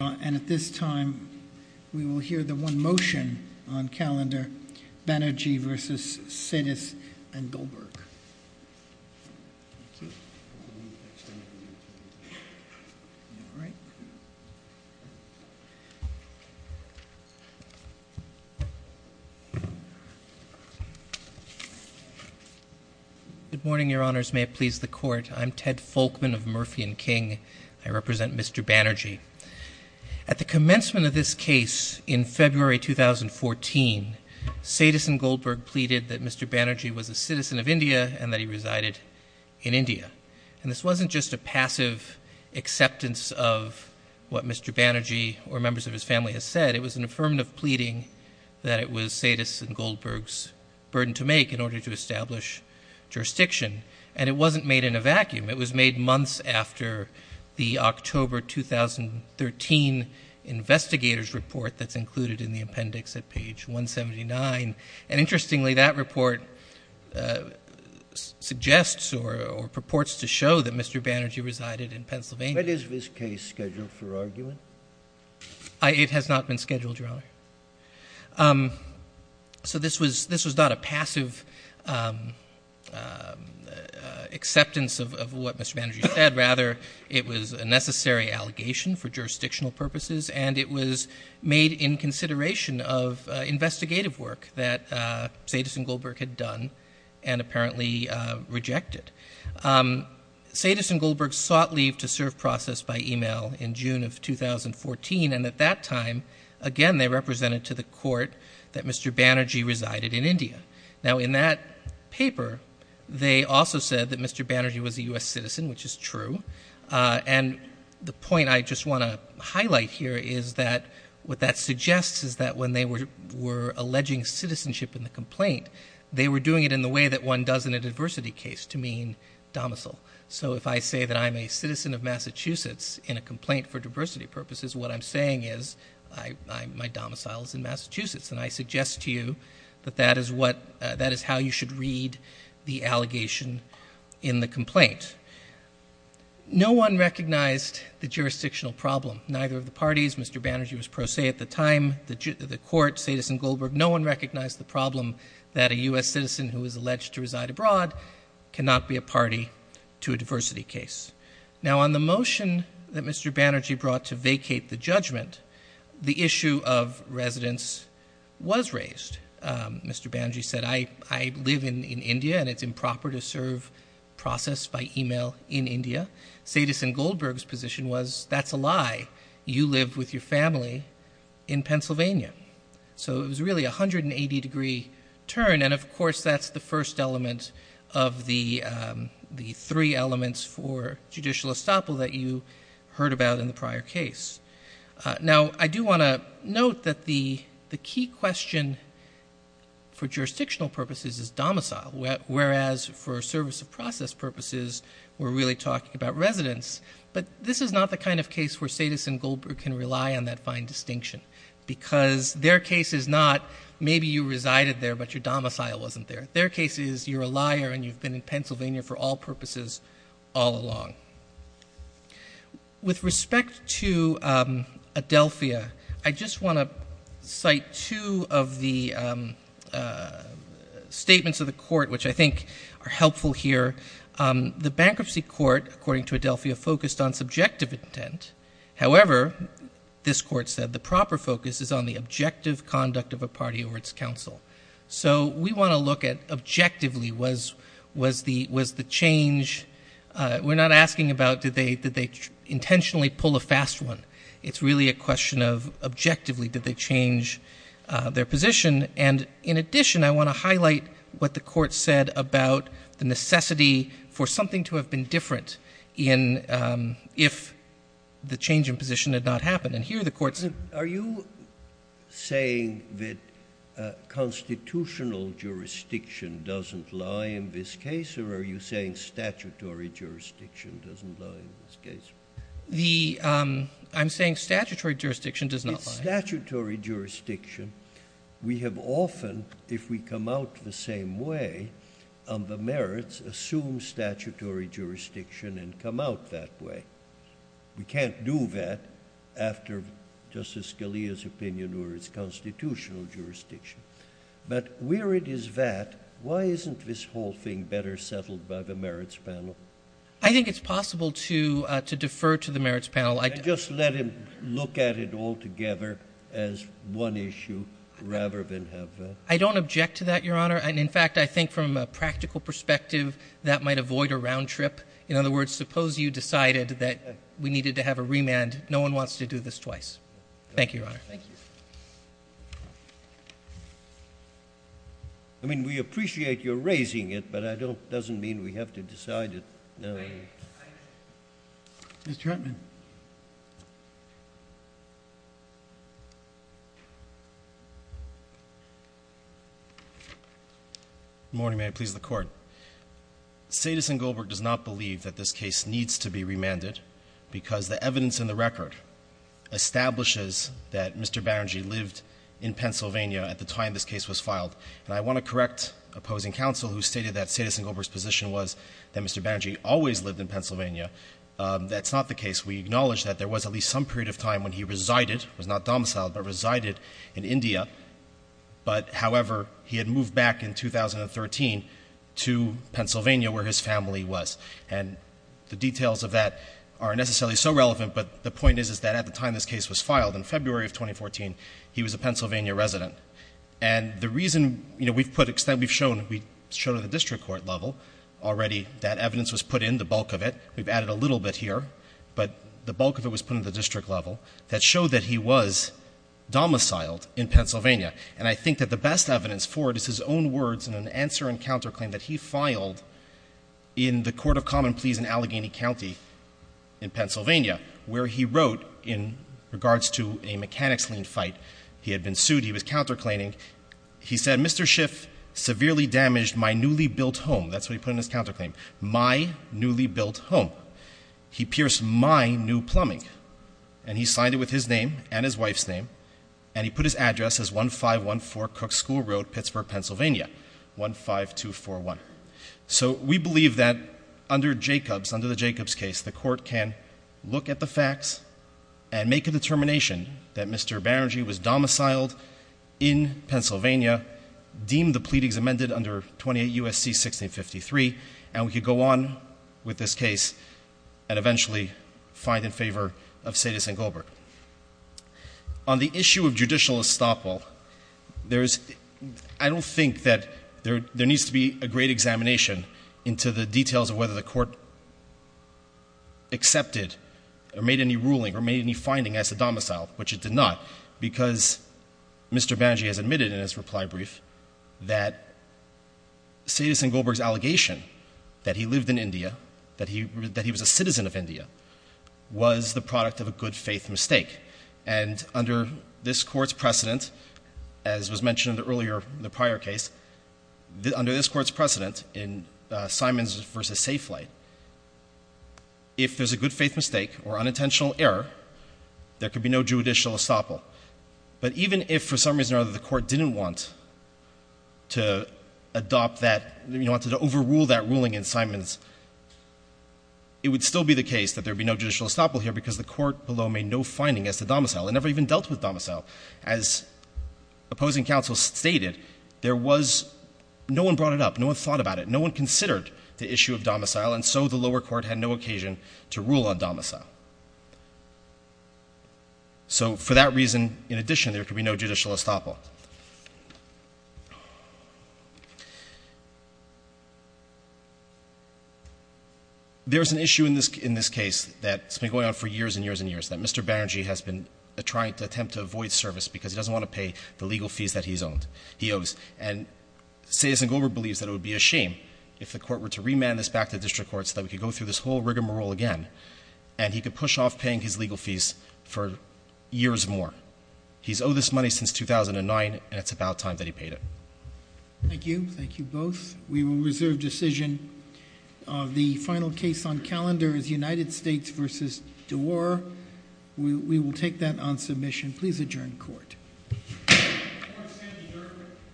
And at this time, we will hear the one motion on calendar, Banerjee v. Sidis & Goldberg. Good morning, your honors. May it please the court. I'm Ted Folkman of Murphy & King. I represent Mr. Banerjee. At the commencement of this case in February 2014, Sidis & Goldberg pleaded that Mr. Banerjee was a citizen of India and that he resided in India. And this wasn't just a passive acceptance of what Mr. Banerjee or members of his family had said. It was an affirmative pleading that it was Sidis & Goldberg's burden to make in order to establish jurisdiction. And it wasn't made in a vacuum. It was made months after the October 2013 investigator's report that's included in the appendix at page 179. And interestingly, that report suggests or purports to show that Mr. Banerjee resided in Pennsylvania. When is this case scheduled for argument? So this was not a passive acceptance of what Mr. Banerjee said. Rather, it was a necessary allegation for jurisdictional purposes, and it was made in consideration of investigative work that Sidis & Goldberg had done and apparently rejected. Sidis & Goldberg sought leave to serve process by email in June of 2014, and at that time, again, they represented to the court that Mr. Banerjee resided in India. Now, in that paper, they also said that Mr. Banerjee was a U.S. citizen, which is true. And the point I just want to highlight here is that what that suggests is that when they were alleging citizenship in the complaint, they were doing it in the way that one does in a diversity case to mean domicile. So if I say that I'm a citizen of Massachusetts in a complaint for diversity purposes, what I'm saying is my domicile is in Massachusetts, and I suggest to you that that is how you should read the allegation in the complaint. No one recognized the jurisdictional problem. Neither of the parties, Mr. Banerjee was pro se at the time, the court, Sidis & Goldberg. No one recognized the problem that a U.S. citizen who is alleged to reside abroad cannot be a party to a diversity case. Now, on the motion that Mr. Banerjee brought to vacate the judgment, the issue of residence was raised. Mr. Banerjee said, I live in India, and it's improper to serve process by email in India. Sidis & Goldberg's position was, that's a lie. You live with your family in Pennsylvania. So it was really a 180-degree turn, and, of course, that's the first element of the three elements for judicial estoppel that you heard about in the prior case. Now, I do want to note that the key question for jurisdictional purposes is domicile, whereas for service of process purposes, we're really talking about residence. But this is not the kind of case where Sidis & Goldberg can rely on that fine distinction because their case is not maybe you resided there but your domicile wasn't there. Their case is you're a liar and you've been in Pennsylvania for all purposes all along. With respect to Adelphia, I just want to cite two of the statements of the court, which I think are helpful here. The bankruptcy court, according to Adelphia, focused on subjective intent. However, this court said the proper focus is on the objective conduct of a party or its counsel. So we want to look at objectively was the change we're not asking about did they intentionally pull a fast one. It's really a question of objectively did they change their position. And in addition, I want to highlight what the court said about the necessity for something to have been different if the change in position had not happened. And here the court said. Are you saying that constitutional jurisdiction doesn't lie in this case or are you saying statutory jurisdiction doesn't lie in this case? I'm saying statutory jurisdiction does not lie. In statutory jurisdiction, we have often, if we come out the same way, the merits assume statutory jurisdiction and come out that way. We can't do that after Justice Scalia's opinion or its constitutional jurisdiction. But where it is that, why isn't this whole thing better settled by the merits panel? I think it's possible to defer to the merits panel. I just let him look at it altogether as one issue rather than have. I don't object to that, Your Honor. And in fact, I think from a practical perspective, that might avoid a round trip. In other words, suppose you decided that we needed to have a remand. No one wants to do this twice. Thank you, Your Honor. Thank you. I mean, we appreciate your raising it, but I don't doesn't mean we have to decide it. Thank you. Mr. Huntman. Good morning. May it please the Court. Sadis and Goldberg does not believe that this case needs to be remanded because the evidence in the record establishes that Mr. Banerjee lived in Pennsylvania at the time this case was filed. And I want to correct opposing counsel who stated that Sadis and Goldberg's position was that Mr. Banerjee always lived in Pennsylvania. That's not the case. We acknowledge that there was at least some period of time when he resided, was not domiciled, but resided in India. But, however, he had moved back in 2013 to Pennsylvania where his family was. And the details of that aren't necessarily so relevant, but the point is that at the time this case was filed, in February of 2014, he was a Pennsylvania resident. And the reason, you know, we've put, we've shown at the district court level already that evidence was put in, the bulk of it. We've added a little bit here, but the bulk of it was put in the district level that showed that he was domiciled in Pennsylvania. And I think that the best evidence for it is his own words in an answer and counterclaim that he filed in the Court of Common Pleas in Allegheny County in Pennsylvania, where he wrote in regards to a mechanics lien fight. He had been sued. He was counterclaiming. He said, Mr. Schiff severely damaged my newly built home. That's what he put in his counterclaim, my newly built home. He pierced my new plumbing. And he signed it with his name and his wife's name. And he put his address as 1514 Cook School Road, Pittsburgh, Pennsylvania, 15241. So we believe that under Jacobs, under the Jacobs case, the court can look at the facts and make a determination that Mr. Berenge was domiciled in Pennsylvania, deemed the pleadings amended under 28 U.S.C. 1653, and we could go on with this case and eventually find in favor of St. St. Gilbert. On the issue of judicial estoppel, I don't think that there needs to be a great examination into the details of whether the court accepted or made any ruling or made any finding as to domicile, because Mr. Berenge has admitted in his reply brief that St. St. Gilbert's allegation that he lived in India, that he was a citizen of India, was the product of a good faith mistake. And under this court's precedent, as was mentioned earlier in the prior case, under this court's precedent in Simons v. Safelite, if there's a good faith mistake or unintentional error, there could be no judicial estoppel. But even if, for some reason or other, the court didn't want to adopt that, wanted to overrule that ruling in Simons, it would still be the case that there would be no judicial estoppel here because the court below made no finding as to domicile. It never even dealt with domicile. As opposing counsel stated, there was—no one brought it up. No one thought about it. No one considered the issue of domicile, and so the lower court had no occasion to rule on domicile. So for that reason, in addition, there could be no judicial estoppel. There's an issue in this case that's been going on for years and years and years, that Mr. Berenge has been trying to attempt to avoid service because he doesn't want to pay the legal fees that he owes. And Sayers and Goldberg believes that it would be a shame if the court were to remand this back to district court so that we could go through this whole rigmarole again, and he could push off paying his legal fees for years more. He's owed this money since 2009, and it's about time that he paid it. Thank you. Thank you both. We will reserve decision. The final case on calendar is United States v. DeWar. We will take that on submission. Please adjourn court. Court is adjourned.